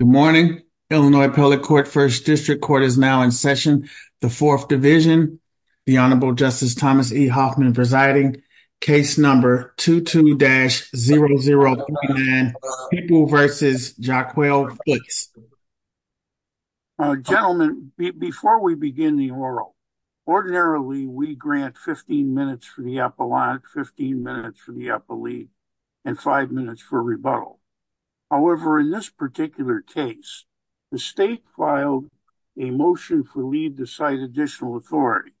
Good morning, Illinois, public court 1st district court is now in session. The 4th division, the honorable justice Thomas E Hoffman presiding case number 22 dash 009 people versus Jack well, please. Gentlemen, before we begin the oral. Ordinarily, we grant 15 minutes for the apple on 15 minutes for the upper league. And 5 minutes for rebuttal. However, in this particular case. The state filed a motion for leave to cite additional authority.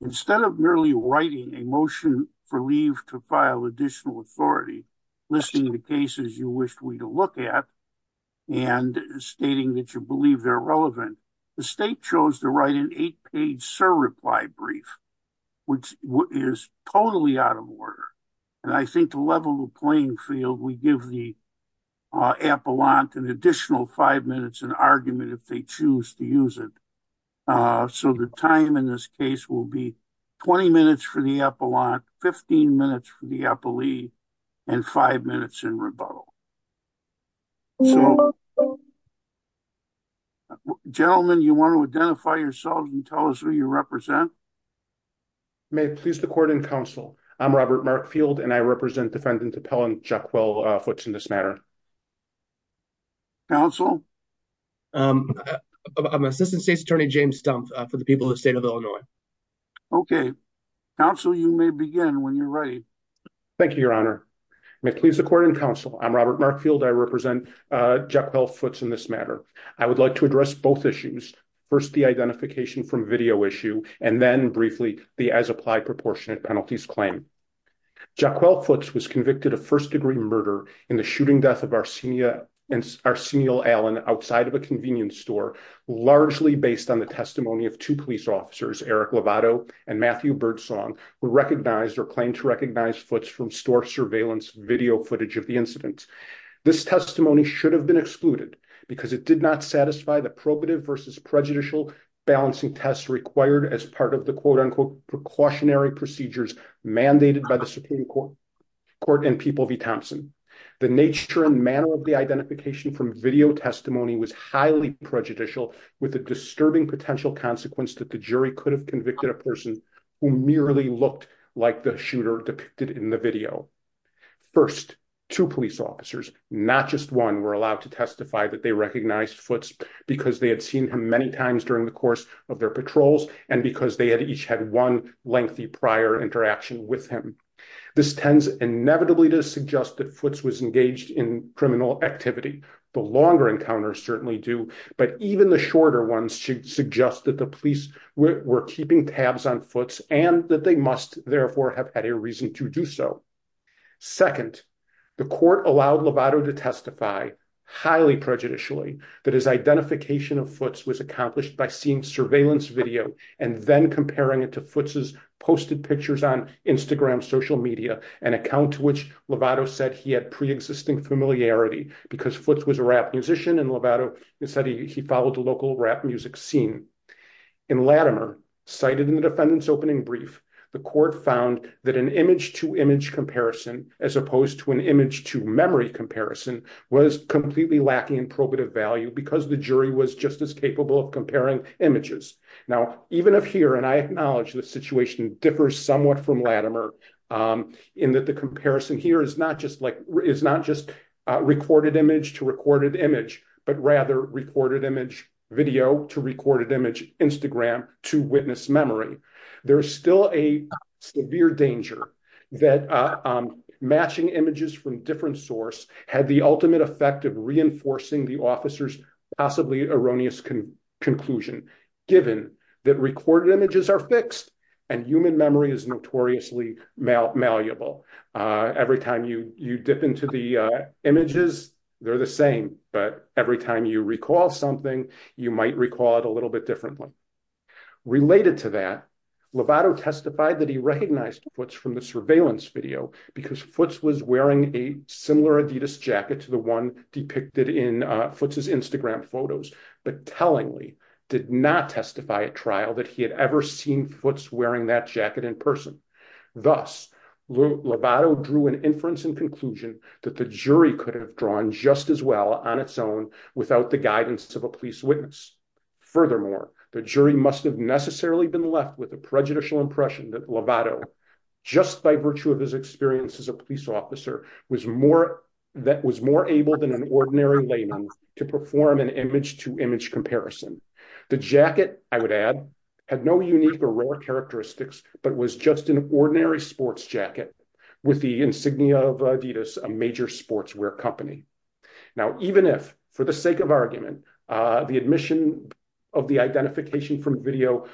Instead of merely writing a motion for leave to file additional authority. Listing the cases you wish we to look at. And stating that you believe they're relevant. The state chose to write an 8 page reply brief. Which is totally out of order. And I think the level of playing field we give the. Apple on an additional 5 minutes and argument if they choose to use it. So the time in this case will be 20 minutes for the apple on 15 minutes for the upper league. And 5 minutes in rebuttal. So. Gentlemen, you want to identify yourself and tell us who you represent. May please the court and counsel. I'm Robert Markfield. And I represent defendant appellant Jack. Well, what's in this matter? Counsel. I'm assistant state's attorney, James stump for the people of the state of Illinois. Okay. Counsel, you may begin when you're ready. Thank you, your honor. May please the court and counsel. I'm Robert Markfield. I represent. Jack well, what's in this matter? I would like to address both issues. First, the identification from video issue, and then briefly the, as applied proportionate penalties claim. Jack, well, foots was convicted of 1st degree murder in the shooting death of Arsenio. And Arsenio Allen outside of a convenience store. Largely based on the testimony of 2 police officers, Eric Lovato and Matthew birdsong were recognized or claimed to recognize foots from store surveillance video footage of the incident. This testimony should have been excluded because it did not satisfy the probative versus prejudicial balancing tests required as part of the quote unquote precautionary procedures mandated by the Supreme court court and people V Thompson, the nature and manner of the identification from video testimony was highly prejudicial with a disturbing potential consequence that the jury could have convicted a person who merely looked like the shooter depicted in the video. First, 2 police officers, not just one were allowed to testify that they recognized foots because they had seen him many times during the course of their patrols. And because they had each had one lengthy prior interaction with him. This tends inevitably to suggest that foots was engaged in criminal activity. The longer encounters certainly do. But even the shorter ones should suggest that the police were keeping tabs on foots and that they must therefore have had a reason to do so. Second, the court allowed Lovato to testify highly prejudicially that his identification of foots was accomplished by seeing surveillance video and then comparing it to foots' posted pictures on Instagram social media, an account to which Lovato said he had preexisting familiarity because foots was a rap musician and Lovato said he followed the local rap music scene. In Latimer, cited in the defendant's opening brief, the court found that an image to image comparison as opposed to an image to memory comparison was completely lacking in probative value because the jury was just as capable of comparing images. Now, even if here and I acknowledge the situation differs somewhat from Latimer in that the comparison here is not just like is not just recorded image to recorded image, but rather recorded image video to recorded image Instagram to witness memory. There's still a severe danger that matching images from different source had the ultimate effect of reinforcing the officer's possibly erroneous conclusion, given that recorded images are fixed and human memory is notoriously malleable. Every time you dip into the images, they're the same. But every time you recall something, you might recall it a little bit differently. Related to that, Lovato testified that he recognized foots from the surveillance video because foots was wearing a similar Adidas jacket to the one depicted in foots' Instagram photos, but tellingly did not testify at trial that he had ever seen foots wearing that jacket in person. Thus, Lovato drew an inference and conclusion that the jury could have drawn just as well on its own without the guidance of a police witness. Furthermore, the jury must have necessarily been left with a prejudicial impression that Lovato, just by virtue of his experience as a police officer, was more able than an ordinary layman to perform an image to image comparison. The jacket, I would add, had no unique or rare characteristics, but was just an ordinary sports jacket with the insignia of Adidas, a major sportswear company. Now, even if, for the sake of argument, the admission of the identification from video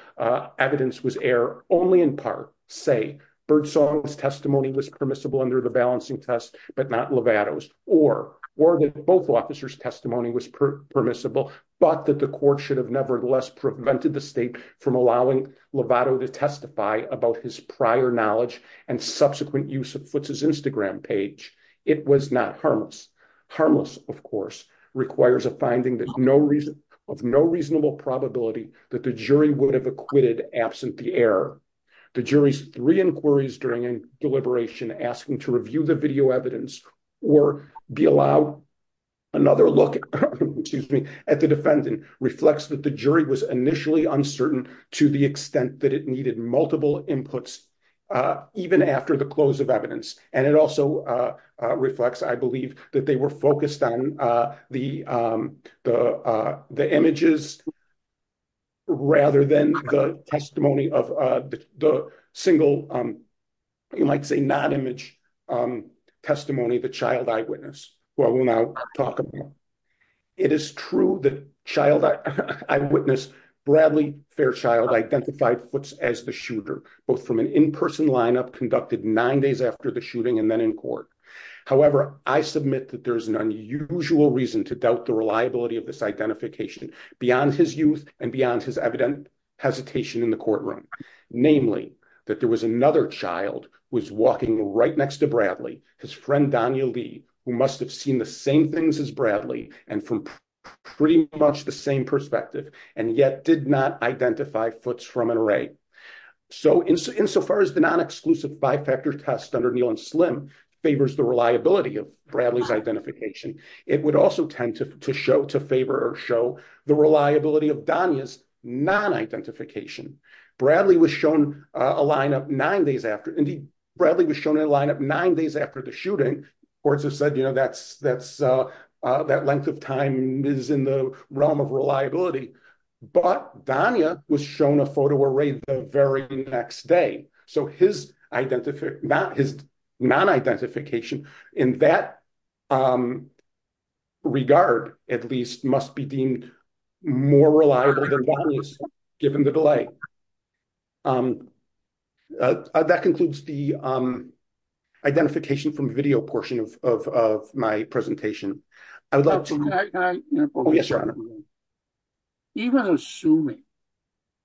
evidence was error only in part, say, Birdsong's testimony was permissible under the balancing test, but not Lovato's, or that both officers' testimony was permissible, but that the court should have nevertheless prevented the state from allowing Lovato to testify about his prior knowledge and subsequent use of foots' Instagram page, it was not harmless. Harmless, of course, requires a finding of no reasonable probability that the jury would have acquitted absent the error. The jury's three inquiries during a deliberation asking to review the video evidence or be allowed another look at the defendant reflects that the jury was initially uncertain to the extent that it needed multiple inputs, even after the close of evidence. And it also reflects, I believe, that they were focused on the images rather than the testimony of the single, you might say, non-image testimony, the child eyewitness, who I will now talk about. It is true that child eyewitness Bradley Fairchild identified foots as the shooter, both from an in-person lineup conducted nine days after the shooting and then in court. However, I submit that there's an unusual reason to doubt the reliability of this identification beyond his youth and beyond his evident hesitation in the courtroom. Namely, that there was another child who was walking right next to Bradley, his friend Donya Lee, who must have seen the same things as Bradley and from pretty much the same perspective, and yet did not identify foots from an array. So insofar as the non-exclusive five-factor test under Neal and Slim favors the reliability of Bradley's identification, it would also tend to show, to favor or show the reliability of Donya's non-identification. Bradley was shown a lineup nine days after—indeed, Bradley was shown a lineup nine days after the shooting. Courts have said, you know, that length of time is in the realm of reliability. But Donya was shown a photo array the very next day. So his identification—his non-identification in that regard, at least, must be deemed more reliable than Donya's, given the delay. That concludes the identification from video portion of my presentation. I would love to— Can I— Oh, yes, Your Honor. Even assuming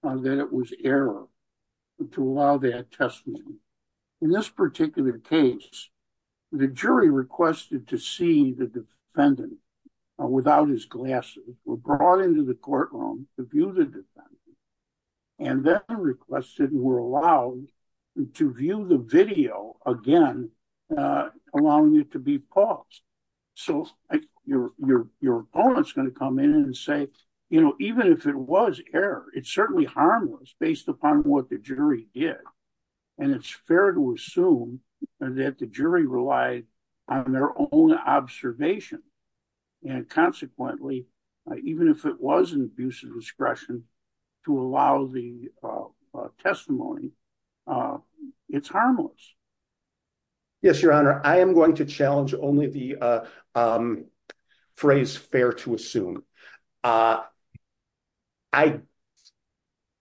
that it was error to allow that testimony, in this particular case, the jury requested to see the defendant without his glasses, were brought into the courtroom to view the defendant, and then requested and were allowed to view the video again, allowing it to be paused. So your opponent's going to come in and say, you know, even if it was error, it's certainly harmless, based upon what the jury did. And it's fair to assume that the jury relied on their own observation. And consequently, even if it was an abuse of discretion to allow the testimony, it's harmless. Yes, Your Honor. I am going to challenge only the phrase, fair to assume.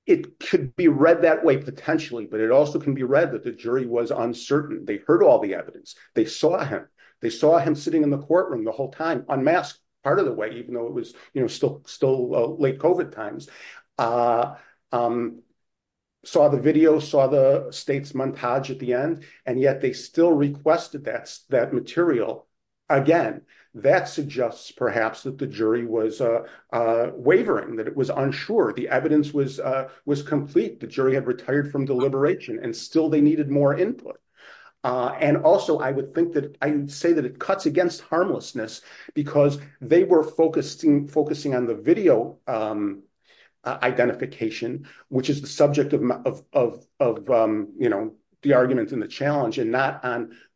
It could be read that way, potentially, but it also can be read that the jury was uncertain. They heard all the evidence. They saw him. They saw him sitting in the courtroom the whole time, unmasked, part of the way, even though it was, you know, still late COVID times. They saw the video, saw the state's montage at the end, and yet they still requested that material. Again, that suggests perhaps that the jury was wavering, that it was unsure. The evidence was complete. The jury had retired from deliberation, and still they needed more input. And also, I would say that it cuts against harmlessness, because they were focusing on the video identification, which is the subject of, you know, the argument and the challenge, and not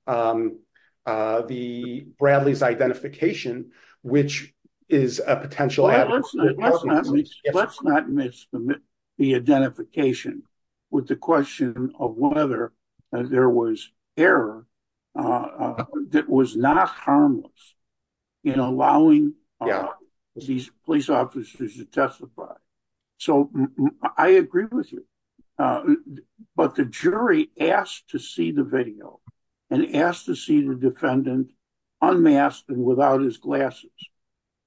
on the Bradley's identification, which is a potential. Let's not miss the identification with the question of whether there was error that was harmless in allowing these police officers to testify. So, I agree with you, but the jury asked to see the video, and asked to see the defendant unmasked and without his glasses.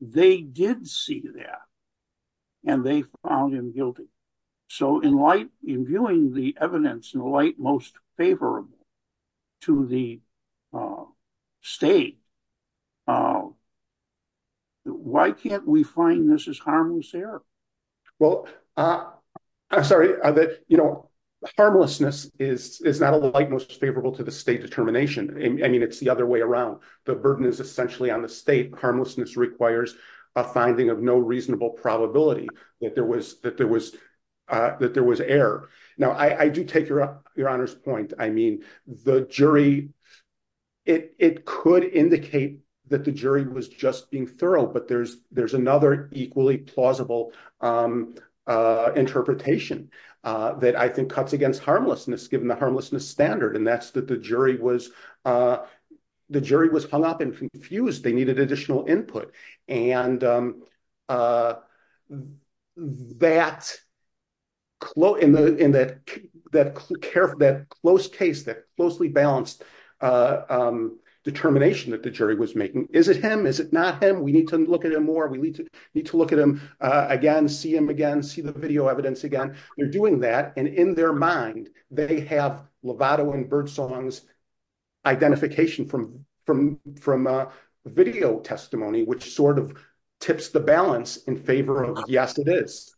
They did see that, and they found him guilty. So, in light, in viewing the evidence in the light most favorable to the state, why can't we find this as harmless error? Well, I'm sorry, you know, harmlessness is not in the light most favorable to the state determination. I mean, it's the other way around. The burden is essentially on the state. Harmlessness requires a finding of no reasonable probability that there was error. Now, I do take your honor's point. I mean, the jury, it could indicate that the jury was just being thorough, but there's another equally plausible interpretation that I think cuts against harmlessness, given the harmlessness standard, and that's that the jury was hung up and confused. They needed additional input, and that close case, that closely balanced determination that the jury was making, is it him? Is it not him? We need to look at him more. We need to look at him again, see him again, see the video evidence again. They're doing that, and in their mind, they have Lovato and Birdsong's identification from video testimony, which sort of tips the balance in favor of, yes, it is.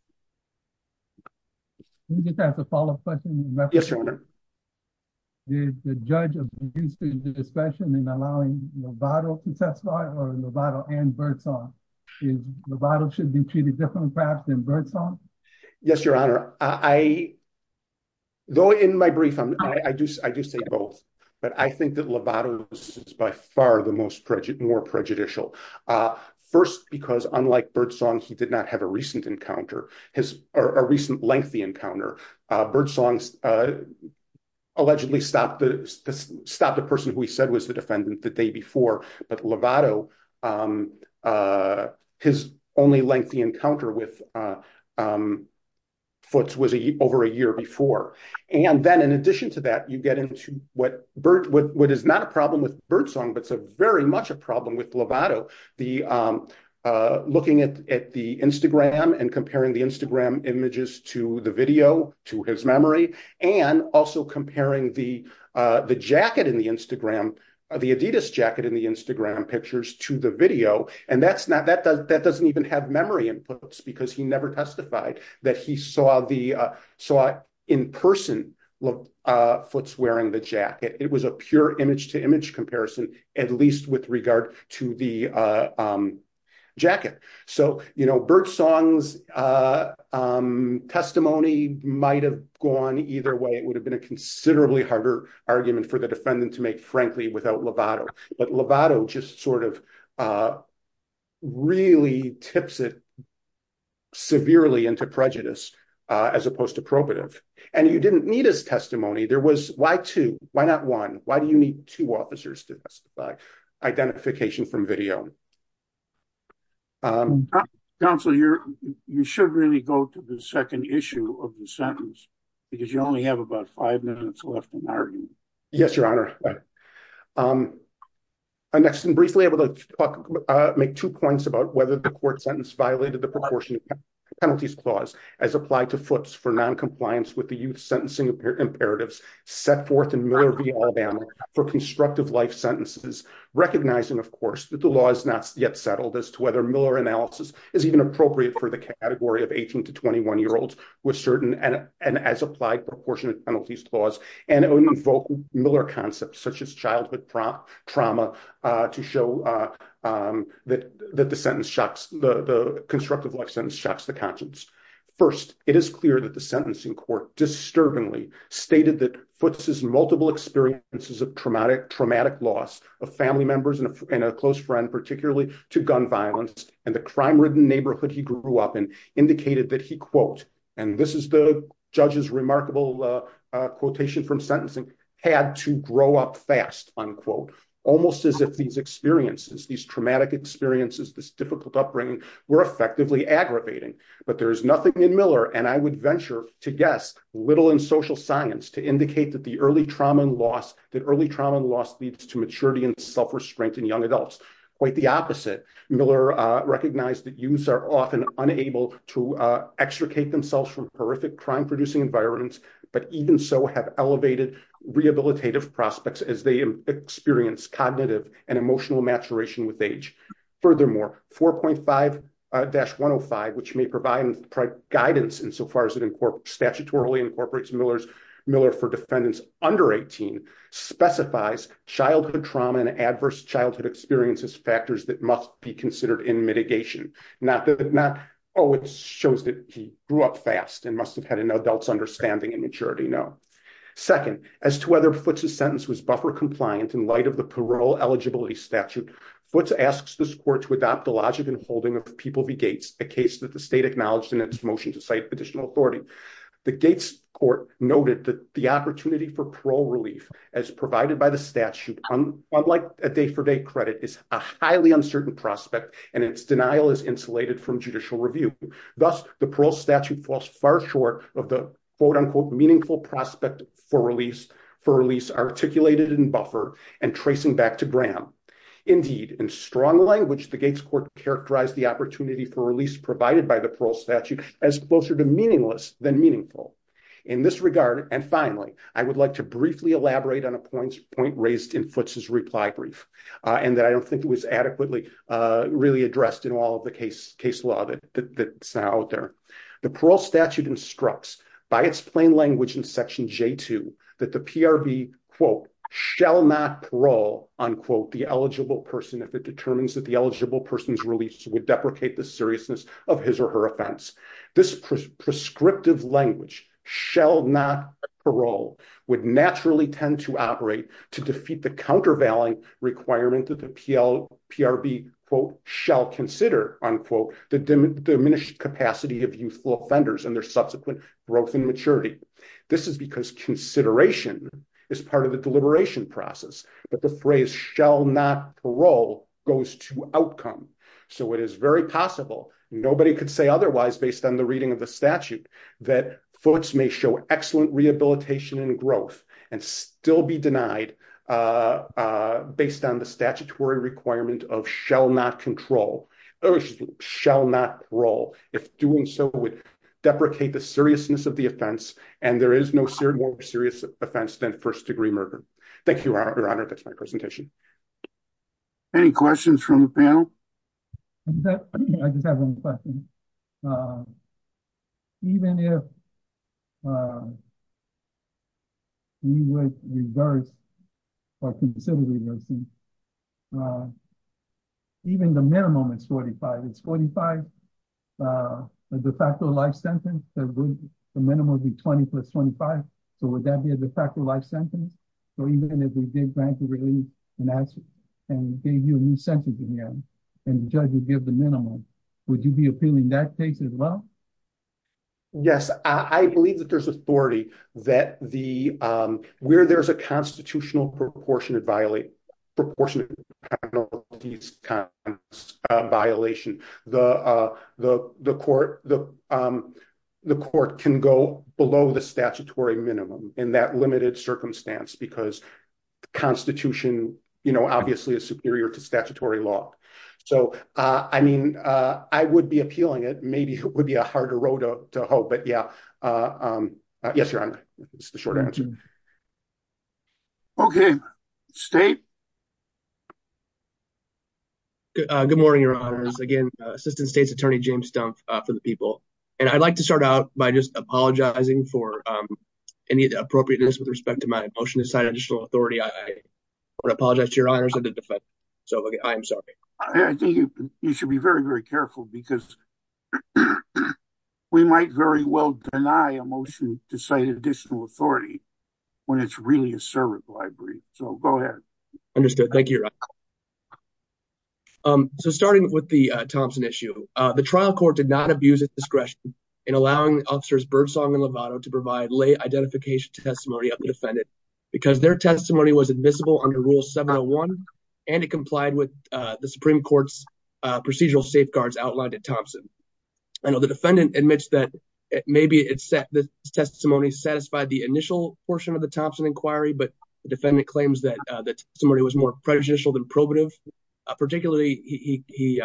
Can we just ask a follow-up question? Yes, your honor. Did the judge abuse the discretion in allowing Lovato to testify, or Lovato and Birdsong? Lovato should be treated differently, perhaps, than Birdsong? Yes, your honor. I, though in my brief, I do say both, but I think that Lovato's is by far the more prejudicial. First, because unlike Birdsong, he did not have a recent encounter, or a recent lengthy encounter. Birdsong allegedly stopped the person who he said was the defendant the day before, but Lovato, his only lengthy encounter with Foots was over a year before. Then in addition to that, you get into what is not a problem with Birdsong, but it's very much a problem with Lovato, looking at the Instagram and comparing the Instagram images to the video, to his memory, and also comparing the jacket in the Instagram, the Adidas jacket in the Instagram pictures to the video, and that's not, that doesn't even have memory in Foots, because he never testified that he saw the, saw in person, Foots wearing the jacket. It was a pure image to image comparison, at least with regard to the jacket. So, you know, Birdsong's testimony might have gone either way. It would have been a considerably harder argument for the defendant to make, frankly, without Lovato. But Lovato just sort of really tips it severely into prejudice, as opposed to probative. And you didn't need his testimony. There was, why two? Why not one? Why do you need two officers to testify? Identification from video. Counselor, you should really go to the second issue of the sentence, because you only have about five minutes left in the argument. Yes, Your Honor. Next, and briefly, I would like to make two points about whether the court sentence violated the proportionate penalties clause as applied to Foots for noncompliance with the youth sentencing imperatives set forth in Miller v. Alabama for constructive life sentences, recognizing, of course, that the law is not yet settled as to whether Miller analysis is even appropriate for the category of 18 to 21-year-olds with certain, and as applied proportionate penalties clause. And it would invoke Miller concepts, such as childhood trauma, to show that the sentence shocks, the constructive life sentence shocks the conscience. First, it is clear that the sentencing court disturbingly stated that Foots' multiple experiences of traumatic loss of family members and a close friend, particularly to gun violence and the crime-ridden neighborhood he grew up in, indicated that he, quote, and this is the judge's remarkable quotation from sentencing, had to grow up fast, unquote, almost as if these experiences, these traumatic experiences, this difficult upbringing were effectively aggravating. But there is nothing in Miller, and I would venture to guess, little in social science to indicate that the early trauma and loss, that early trauma and loss leads to maturity and self-restraint in young adults. Quite the opposite. Miller recognized that youths are often unable to extricate themselves from horrific crime-producing environments, but even so have elevated rehabilitative prospects as they experience cognitive and emotional maturation with age. Furthermore, 4.5-105, which may provide guidance in so far as it incorporates, statutorily incorporates Miller for defendants under 18, specifies childhood trauma and adverse childhood experiences factors that must be considered in mitigation, not that, oh, it shows that he grew up fast and must have had an adult's understanding and maturity. No. Second, as to whether Futz's sentence was buffer compliant in light of the parole eligibility statute, Futz asks this court to adopt the logic and holding of the People v. Gates, a case that the state acknowledged in its motion to cite additional authority. The Gates court noted that the opportunity for parole relief, as provided by the statute, unlike a day-for-day credit, is a highly uncertain prospect and its denial is insulated from judicial review. Thus, the parole statute falls far short of the, quote-unquote, meaningful prospect for release articulated in buffer and tracing back to Graham. Indeed, in strong language, the Gates court characterized the opportunity for release provided by the parole statute as closer to meaningless than meaningful. In this regard, and finally, I would like to briefly elaborate on a point raised in Futz's reply brief, and that I don't think was adequately really addressed in all of the case law that's out there. The parole statute instructs, by its plain language in section J-2, that the PRB, quote, shall not parole, unquote, the eligible person if it determines that the eligible person's release would deprecate the seriousness of his or her offense. This prescriptive language, shall not parole, would naturally tend to operate to defeat the countervailing requirement that the PRB, quote, shall consider, unquote, the diminished capacity of youthful offenders and their subsequent growth and maturity. This is because consideration is part of the deliberation process. But the phrase shall not parole goes to outcome. So it is very possible, nobody could say otherwise based on the reading of the statute, that Futz may show excellent rehabilitation and growth and still be denied based on the statutory requirement of shall not parole if doing so would deprecate the seriousness of the offense and there is no more serious offense than first degree murder. Thank you, Your Honor. That's my presentation. Any questions from the panel? I just have one question. Even if we would reverse or consider reversing, even the minimum is 45. It's 45, the de facto life sentence, the minimum would be 20 plus 25. So would that be a de facto life sentence? So even if we did grant a release and gave you a new sentence again, and the judge would give the minimum, would you be appealing that case as well? Yes, I believe that there's authority that where there's a constitutional proportionate violation, the court can go below the statutory minimum in that limited circumstance. Because the constitution, you know, obviously is superior to statutory law. So, I mean, I would be appealing it. Maybe it would be a harder road to hope, but yeah. Yes, Your Honor. It's the short answer. Okay, State? Good morning, Your Honors. Again, Assistant State's Attorney, James Stumpf for the people. And I'd like to start out by just apologizing for any appropriateness with respect to my motion to cite additional authority. I want to apologize to Your Honors and the defense. So I am sorry. I think you should be very, very careful because we might very well deny a motion to cite additional authority when it's really a servant library. So go ahead. Understood. Thank you, Your Honor. So, I am sorry. I think you should be very careful. I know that the Defendant admits that maybe it said that the testimony satisfied the initial portion of the Thompson Inquiry, but the defendant claims that the testimony was more prejudicial than probative. Particularly, he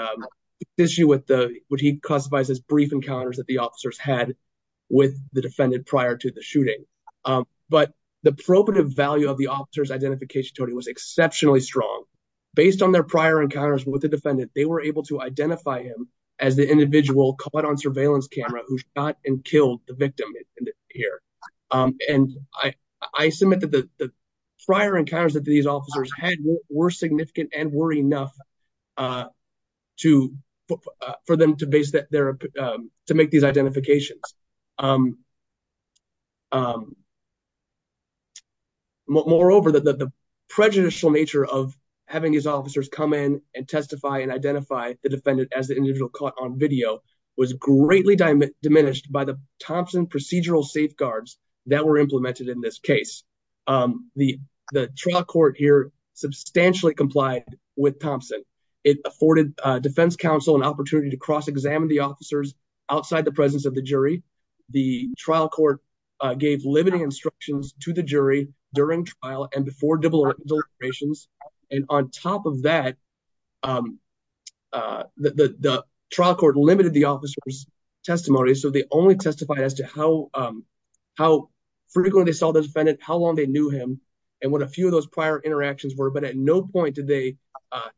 issues with the what he classifies as brief encounters that the officers had with the defendant prior to the shooting. But the probative value of the officer's identification was exceptionally strong. Based on their prior encounters with the defendant, they were able to identify him as the individual caught on surveillance camera who shot and killed the victim here. And I submit that the prior encounters that these officers had were significant and were for them to make these identifications. Moreover, the prejudicial nature of having these officers come in and testify and identify the defendant as the individual caught on video was greatly diminished by the Thompson procedural safeguards that were implemented in this case. It afforded defense counsel an opportunity to cross-examine the officers outside the presence of the jury. The trial court gave limiting instructions to the jury during trial and before deliberations. And on top of that, the trial court limited the officer's testimony, so they only testified as to how frequently they saw the defendant, how long they knew him, and what a few of But at no point did they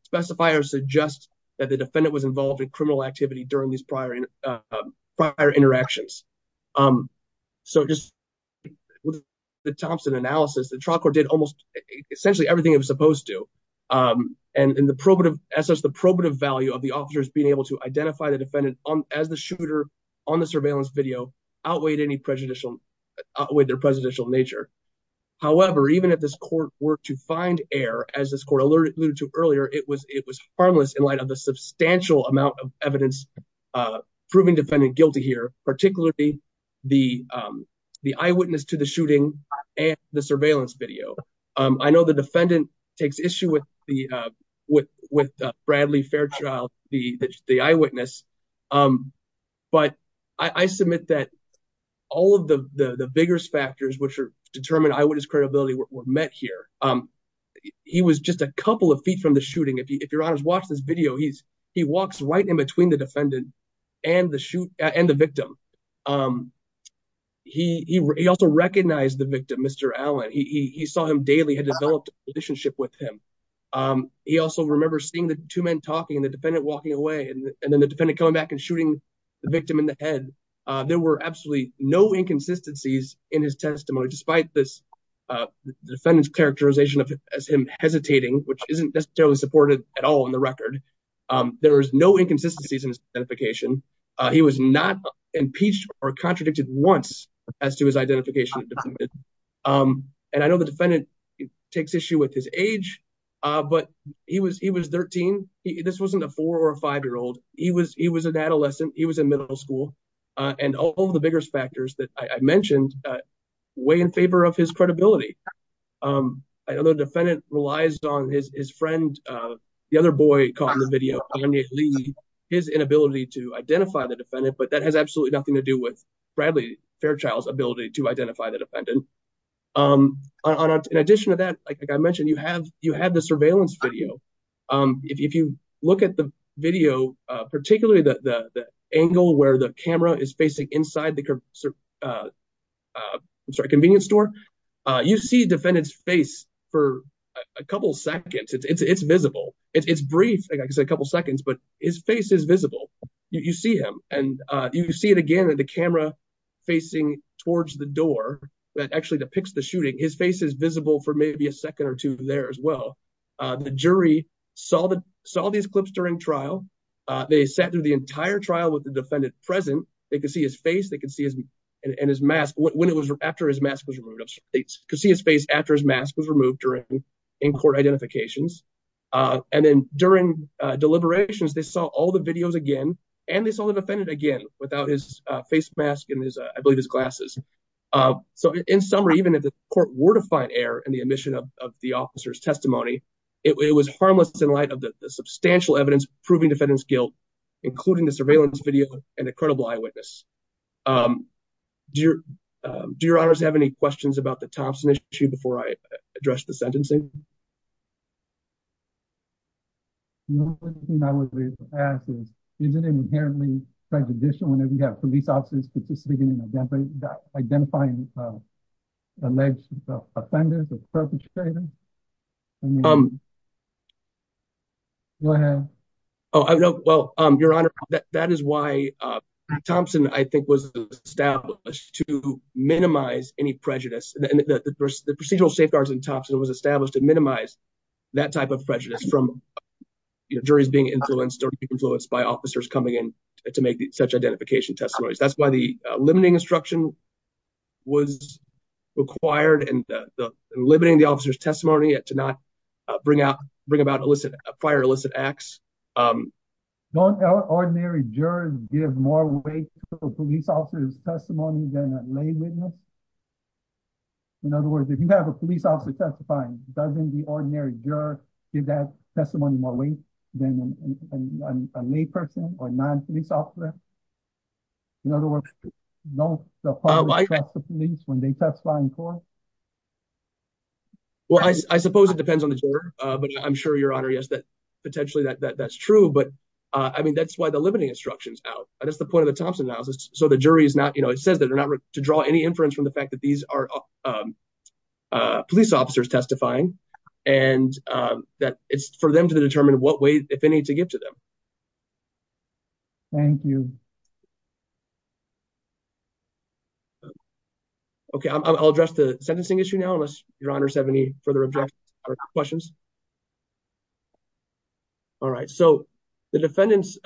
specify or suggest that the defendant was involved in criminal activity during these prior interactions. So just with the Thompson analysis, the trial court did almost essentially everything it was supposed to. And the probative value of the officers being able to identify the defendant as the shooter on the surveillance video outweighed their prejudicial nature. However, even if this court were to find error, as this court alluded to earlier, it was harmless in light of the substantial amount of evidence proving defendant guilty here, particularly the eyewitness to the shooting and the surveillance video. I know the defendant takes issue with Bradley Fairchild, the eyewitness. But I submit that all of the vigorous factors which determine eyewitness credibility were met here. He was just a couple of feet from the shooting. If you're honest, watch this video. He walks right in between the defendant and the victim. He also recognized the victim, Mr. Allen. He saw him daily, had developed a relationship with him. He also remembers seeing the two men talking and the defendant walking away, and then the coming back and shooting the victim in the head. There were absolutely no inconsistencies in his testimony, despite this defendant's characterization as him hesitating, which isn't necessarily supported at all in the record. There was no inconsistencies in his identification. He was not impeached or contradicted once as to his identification. And I know the defendant takes issue with his age, but he was 13. This wasn't a four or a five-year-old. He was an adolescent. He was in middle school. And all of the vigorous factors that I mentioned weigh in favor of his credibility. I know the defendant relies on his friend, the other boy caught in the video, his inability to identify the defendant, but that has absolutely nothing to do with Bradley Fairchild's ability to identify the defendant. In addition to that, like I mentioned, you have the surveillance video. If you look at the video, particularly the angle where the camera is facing inside the convenience store, you see the defendant's face for a couple seconds. It's visible. It's brief, like I said, a couple seconds, but his face is visible. You see him, and you see it again with the camera facing towards the door that actually depicts the shooting. His face is visible for maybe a second or two there as well. The jury saw these clips during trial. They sat through the entire trial with the defendant present. They could see his face. They could see his face after his mask was removed during in-court identifications. And then during deliberations, they saw all the videos again, and they saw the defendant again without his face mask and I believe his glasses. So, in summary, even if the court were to find error in the omission of the officer's testimony, it was harmless in light of the substantial evidence proving the defendant's guilt, including the surveillance video and the credible eyewitness. Do your honors have any questions about the Thompson issue before I address the sentencing? The only thing I would ask is, isn't it inherently prejudicial whenever you have police officers participating in identifying alleged offenders or perpetrators? Go ahead. Oh, no. Well, Your Honor, that is why Thompson, I think, was established to minimize any prejudice. The procedural safeguards in Thompson was established to minimize that type of prejudice from juries being influenced or influenced by officers coming in to make such identification testimonies. That's why the limiting instruction was required and limiting the officer's testimony to not bring about fire-illicit acts. Don't ordinary jurors give more weight to a police officer's testimony than a lay witness? In other words, if you have a police officer testifying, doesn't the ordinary juror give that testimony more weight than a lay person or non-police officer? In other words, don't the public trust the police when they testify in court? Well, I suppose it depends on the juror. But I'm sure, Your Honor, yes, that potentially that's true. But I mean, that's why the limiting instruction is out. That's the point of the Thompson analysis. So the jury is not, you know, it says that they're not to draw any inference from the police officers testifying and that it's for them to determine what weight, if any, to give to them. Thank you. Okay, I'll address the sentencing issue now, unless Your Honor has any further objections or questions. All right. So the defendant's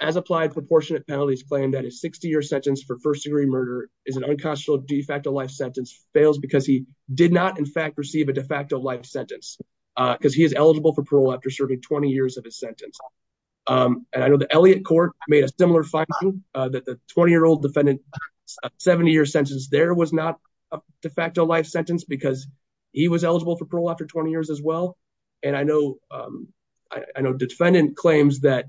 as-applied proportionate penalties claim that a 60-year sentence for he did not, in fact, receive a de facto life sentence because he is eligible for parole after serving 20 years of his sentence. And I know the Elliott court made a similar finding that the 20-year-old defendant, a 70-year sentence there was not a de facto life sentence because he was eligible for parole after 20 years as well. And I know the defendant claims that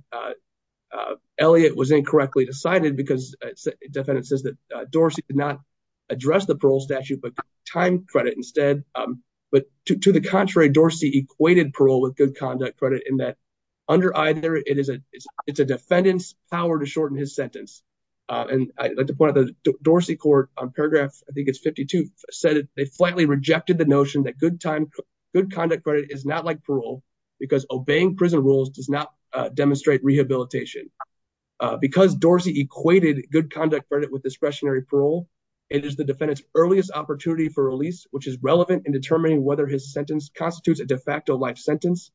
Elliott was incorrectly decided because the defendant says that Dorsey did not address the parole statute, but time credit instead. But to the contrary, Dorsey equated parole with good conduct credit in that under either it is a defendant's power to shorten his sentence. And I'd like to point out that the Dorsey court on paragraph, I think it's 52, said they flatly rejected the notion that good time, good conduct credit is not like parole because obeying prison rules does not demonstrate rehabilitation. Because Dorsey equated good conduct credit with discretionary parole, it is the defendant's earliest opportunity for release, which is relevant in determining whether his sentence constitutes a de facto life sentence.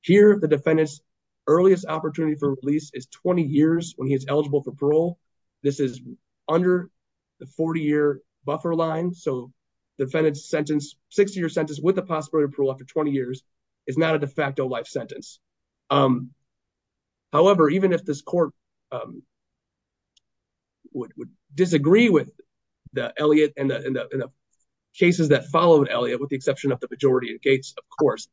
Here, the defendant's earliest opportunity for release is 20 years when he is eligible for parole. This is under the 40-year buffer line. So the defendant's sentence, 60-year sentence with the possibility of parole after 20 years is not a de facto life sentence. However, even if this court would disagree with Elliot and the cases that followed Elliot, with the exception of the majority in Gates, of course,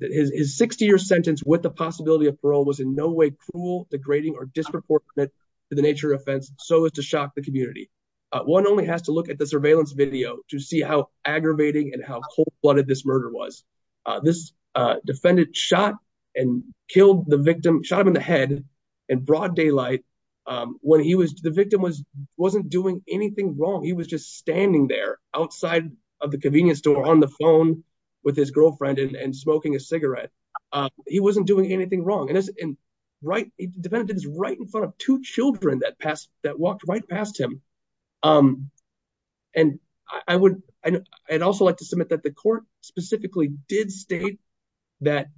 his 60-year sentence with the possibility of parole was in no way cruel, degrading, or disproportionate to the nature of offense, so as to shock the community. One only has to look at the surveillance video to see how aggravating and how cold-blooded this murder was. This defendant shot and killed the victim, shot him in the head in broad daylight. The victim wasn't doing anything wrong. He was just standing there outside of the convenience store on the phone with his girlfriend and smoking a cigarette. He wasn't doing anything wrong. And the defendant is right in front of two children that walked right past him. And I'd also like to submit that the court specifically did state that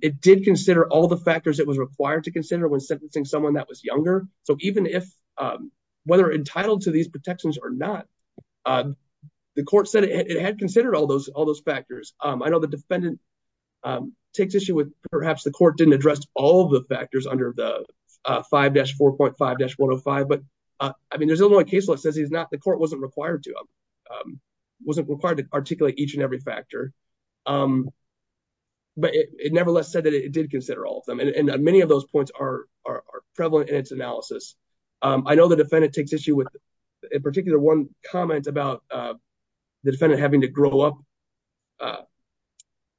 it did consider all the factors it was required to consider when sentencing someone that was younger. So even if, whether entitled to these protections or not, the court said it had considered all those factors. I know the defendant takes issue with perhaps the court didn't address all of the factors under the 5-4.5-105, but I mean, there's only one case where it says the court wasn't required to articulate each and every factor, but it nevertheless said that it did consider all of them. And many of those points are prevalent in its analysis. I know the defendant takes issue with, in particular, one comment about the defendant having to grow up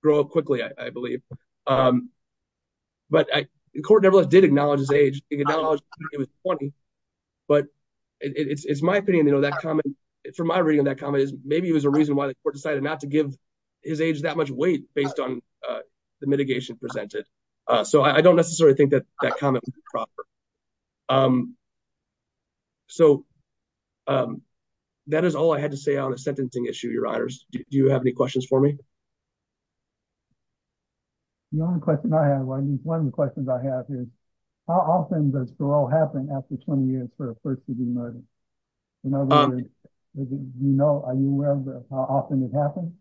quickly, I believe. But the court nevertheless did acknowledge his age. It acknowledged he was 20, but it's my opinion, you know, that comment, from my reading of that comment, maybe it was a reason why the court decided not to give his age that much weight based on the mitigation presented. So I don't necessarily think that that comment was proper. So that is all I had to say on the sentencing issue, Your Honors. Do you have any questions for me? The only question I have, one of the questions I have is, how often does parole happen after 20 years for a person to be murdered? In other words, do you know, are you aware of how often it happens?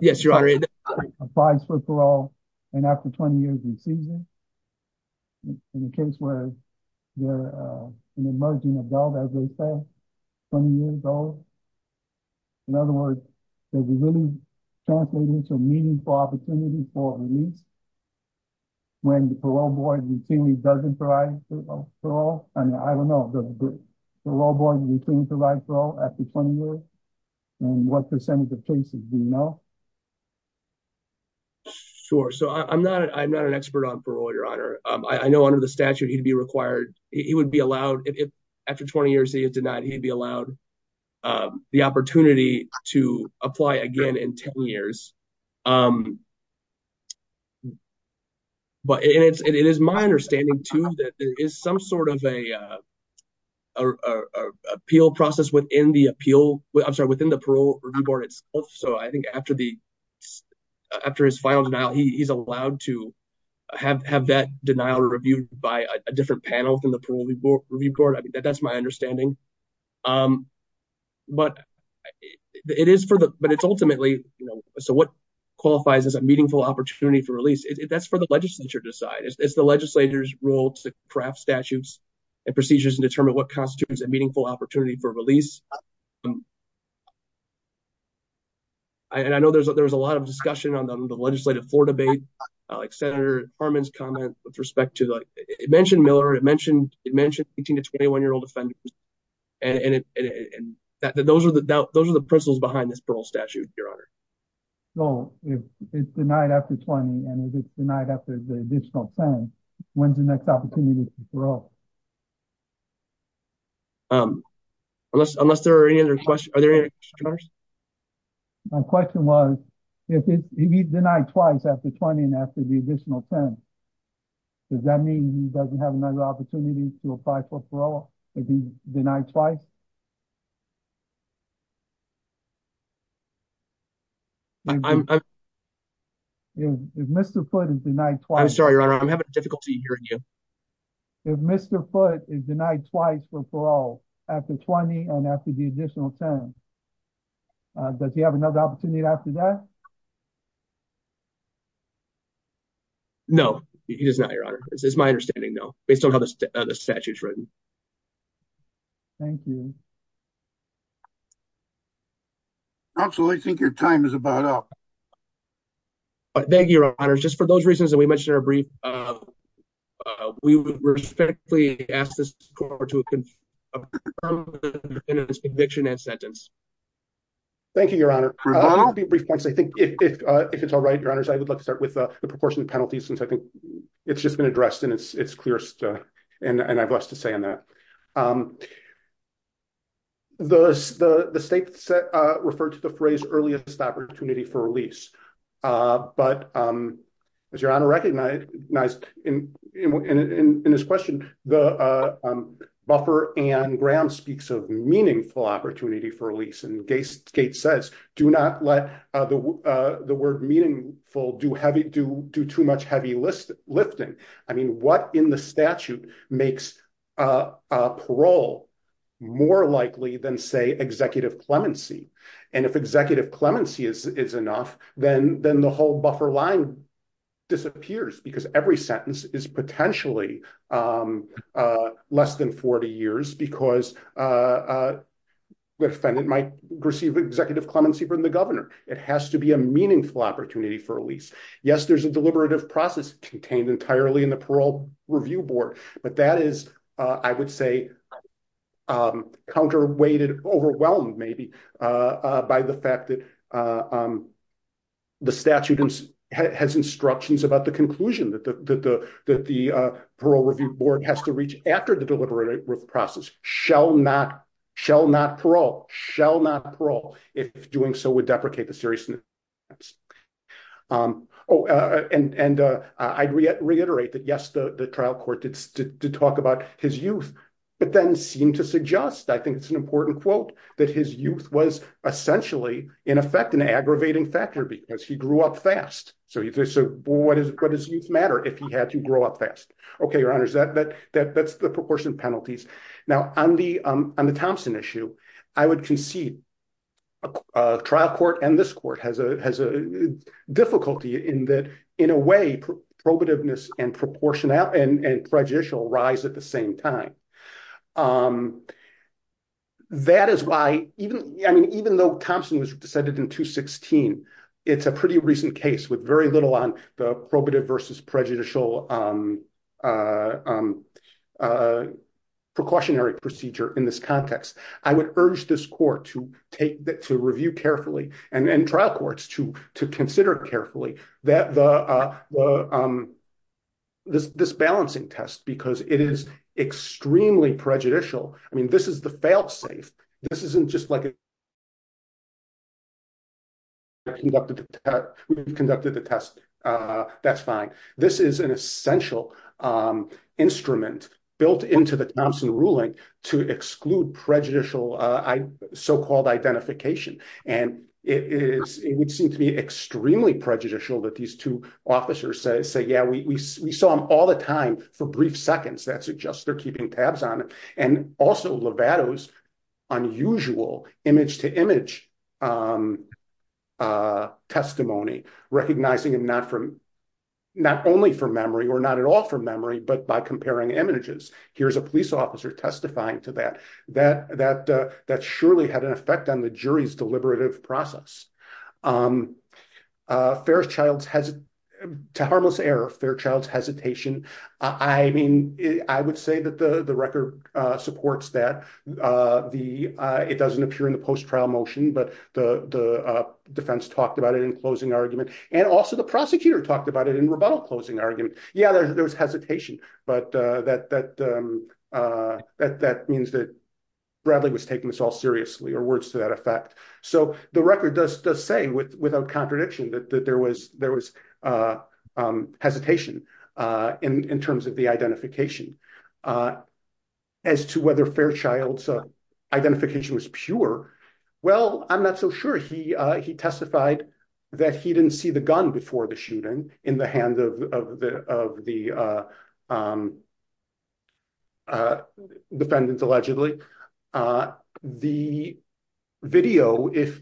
Yes, Your Honor. Where a person applies for parole and after 20 years he sees them? In a case where they're an emerging adult, as they say, 20 years old? In other words, does it really translate into a meaningful opportunity for release when the parole board routinely doesn't provide parole? I mean, I don't know. Does the parole board routinely provide parole after 20 years? And what percentage of cases do you know? Sure. So I'm not an expert on parole, Your Honor. I know under the statute, he'd be required, he would be allowed, if after 20 years he denied, he'd be allowed the opportunity to apply again in 10 years. But it is my understanding, too, that there is some sort of a appeal process within the appeal, I'm sorry, within the parole review board itself. So I think after his final denial, he's allowed to have that denial reviewed by a different panel within the parole review board. That's my understanding. But it is for the, but it's ultimately, you know, so what qualifies as a meaningful opportunity for release? That's for the legislature to decide. It's the legislature's role to craft statutes and procedures and determine what constitutes a meaningful opportunity for release. And I know there's a lot of discussion on the legislative floor debate, like Senator Miller, it mentioned 18 to 21 year old offenders. And those are the principles behind this parole statute, Your Honor. So if it's denied after 20 and if it's denied after the additional 10, when's the next opportunity for parole? Unless there are any other questions, are there any other questions? My question was, if he's denied twice after 20 and after the additional 10, does that mean he doesn't have another opportunity to apply for parole? If he's denied twice? If Mr. Foote is denied twice. I'm sorry, Your Honor, I'm having difficulty hearing you. If Mr. Foote is denied twice for parole after 20 and after the additional 10, does he have another opportunity after that? No, he does not, Your Honor. It's my understanding, though, based on how the statute is written. Thank you. Absolutely. I think your time is about up. Thank you, Your Honor. Just for those reasons that we mentioned in our brief, we respectfully ask this court to confirm the defendant's conviction and sentence. Thank you, Your Honor. I'll make a few brief points. I think if it's all right, Your Honors, I would like to start with the proportion of since I think it's just been addressed and it's clear and I have less to say on that. The state referred to the phrase earliest opportunity for release. But as Your Honor recognized in his question, the buffer Ann Graham speaks of meaningful opportunity for release. Gates says, do not let the word meaningful do too much heavy lifting. I mean, what in the statute makes parole more likely than, say, executive clemency? And if executive clemency is enough, then the whole buffer line disappears because every executive clemency from the governor. It has to be a meaningful opportunity for release. Yes, there's a deliberative process contained entirely in the parole review board. But that is, I would say, counterweighted, overwhelmed maybe by the fact that the statute has instructions about the conclusion that the parole review board has to reach after the deliberative process. Shall not, shall not parole, shall not parole if doing so would deprecate the seriousness. Oh, and I'd reiterate that, yes, the trial court did talk about his youth, but then seemed to suggest, I think it's an important quote, that his youth was essentially, in effect, an aggravating factor because he grew up fast. So what does youth matter if he had to grow up fast? Now, on the Thompson issue, I would concede a trial court and this court has a difficulty in that, in a way, probativeness and proportionality and prejudicial rise at the same time. That is why even, I mean, even though Thompson was decided in 216, it's a pretty recent case with very little on the probative versus prejudicial precautionary procedure in this context. I would urge this court to take, to review carefully and trial courts to consider carefully this balancing test because it is extremely prejudicial. I mean, this is the fail safe. This isn't just like, we've conducted the test, that's fine. This is an essential instrument built into the Thompson ruling to exclude prejudicial so-called identification and it would seem to be extremely prejudicial that these two officers say, yeah, we saw him all the time for brief seconds. That suggests they're keeping tabs on it. And also Lovato's unusual image-to-image testimony, recognizing him not only for memory or not at all for memory, but by comparing images. Here's a police officer testifying to that. That surely had an effect on the jury's deliberative process. To harmless error, Fairchild's hesitation. I mean, I would say that the record supports that. It doesn't appear in the post-trial motion, but the defense talked about it in closing argument and also the prosecutor talked about it in rebuttal closing argument. Yeah, there was hesitation, but that means that Bradley was taking this all seriously or words to that effect. So the record does say without contradiction that there was hesitation in terms of the identification. As to whether Fairchild's identification was pure, well, I'm not so sure. He testified that he didn't see the gun before the shooting in the hand of the defendant allegedly. The video, if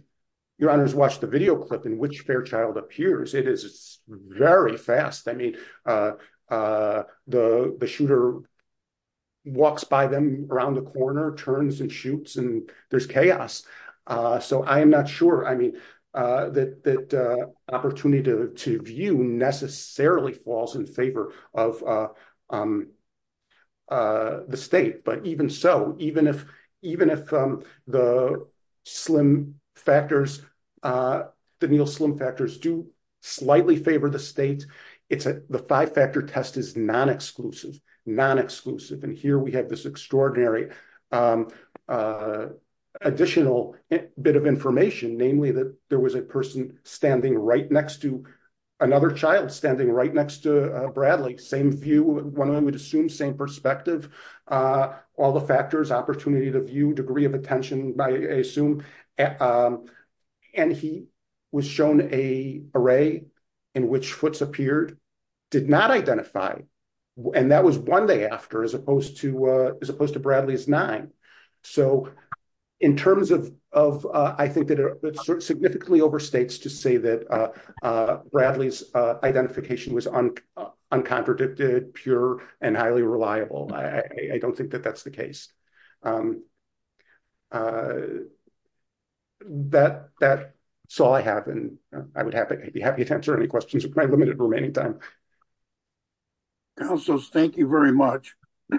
your honors watched the video clip in which Fairchild appears, it is very fast. I mean, the shooter walks by them around the corner, turns and shoots and there's chaos. So I am not sure, I mean, that opportunity to view necessarily falls in favor of the state. But even so, even if the slim factors, the Neil slim factors do slightly favor the state, it's the five factor test is non-exclusive, non-exclusive. And here we have this extraordinary additional bit of information, namely that there was a person standing right next to another child standing right next to Bradley. Same view, one of them would assume same perspective, all the factors, opportunity to view, degree of attention, I assume. And he was shown a array in which Futz appeared, did not identify. And that was one day after as opposed to Bradley's nine. So in terms of, I think that it significantly overstates to say that Bradley's identification was uncontradicted, pure and highly reliable. I don't think that that's the case. That's all I have. And I would be happy to answer any questions in my limited remaining time. Counselors, thank you very much. The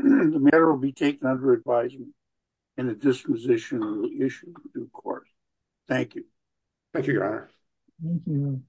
matter will be taken under advisement in a dispositional issue, of course. Thank you. Thank you, Your Honor.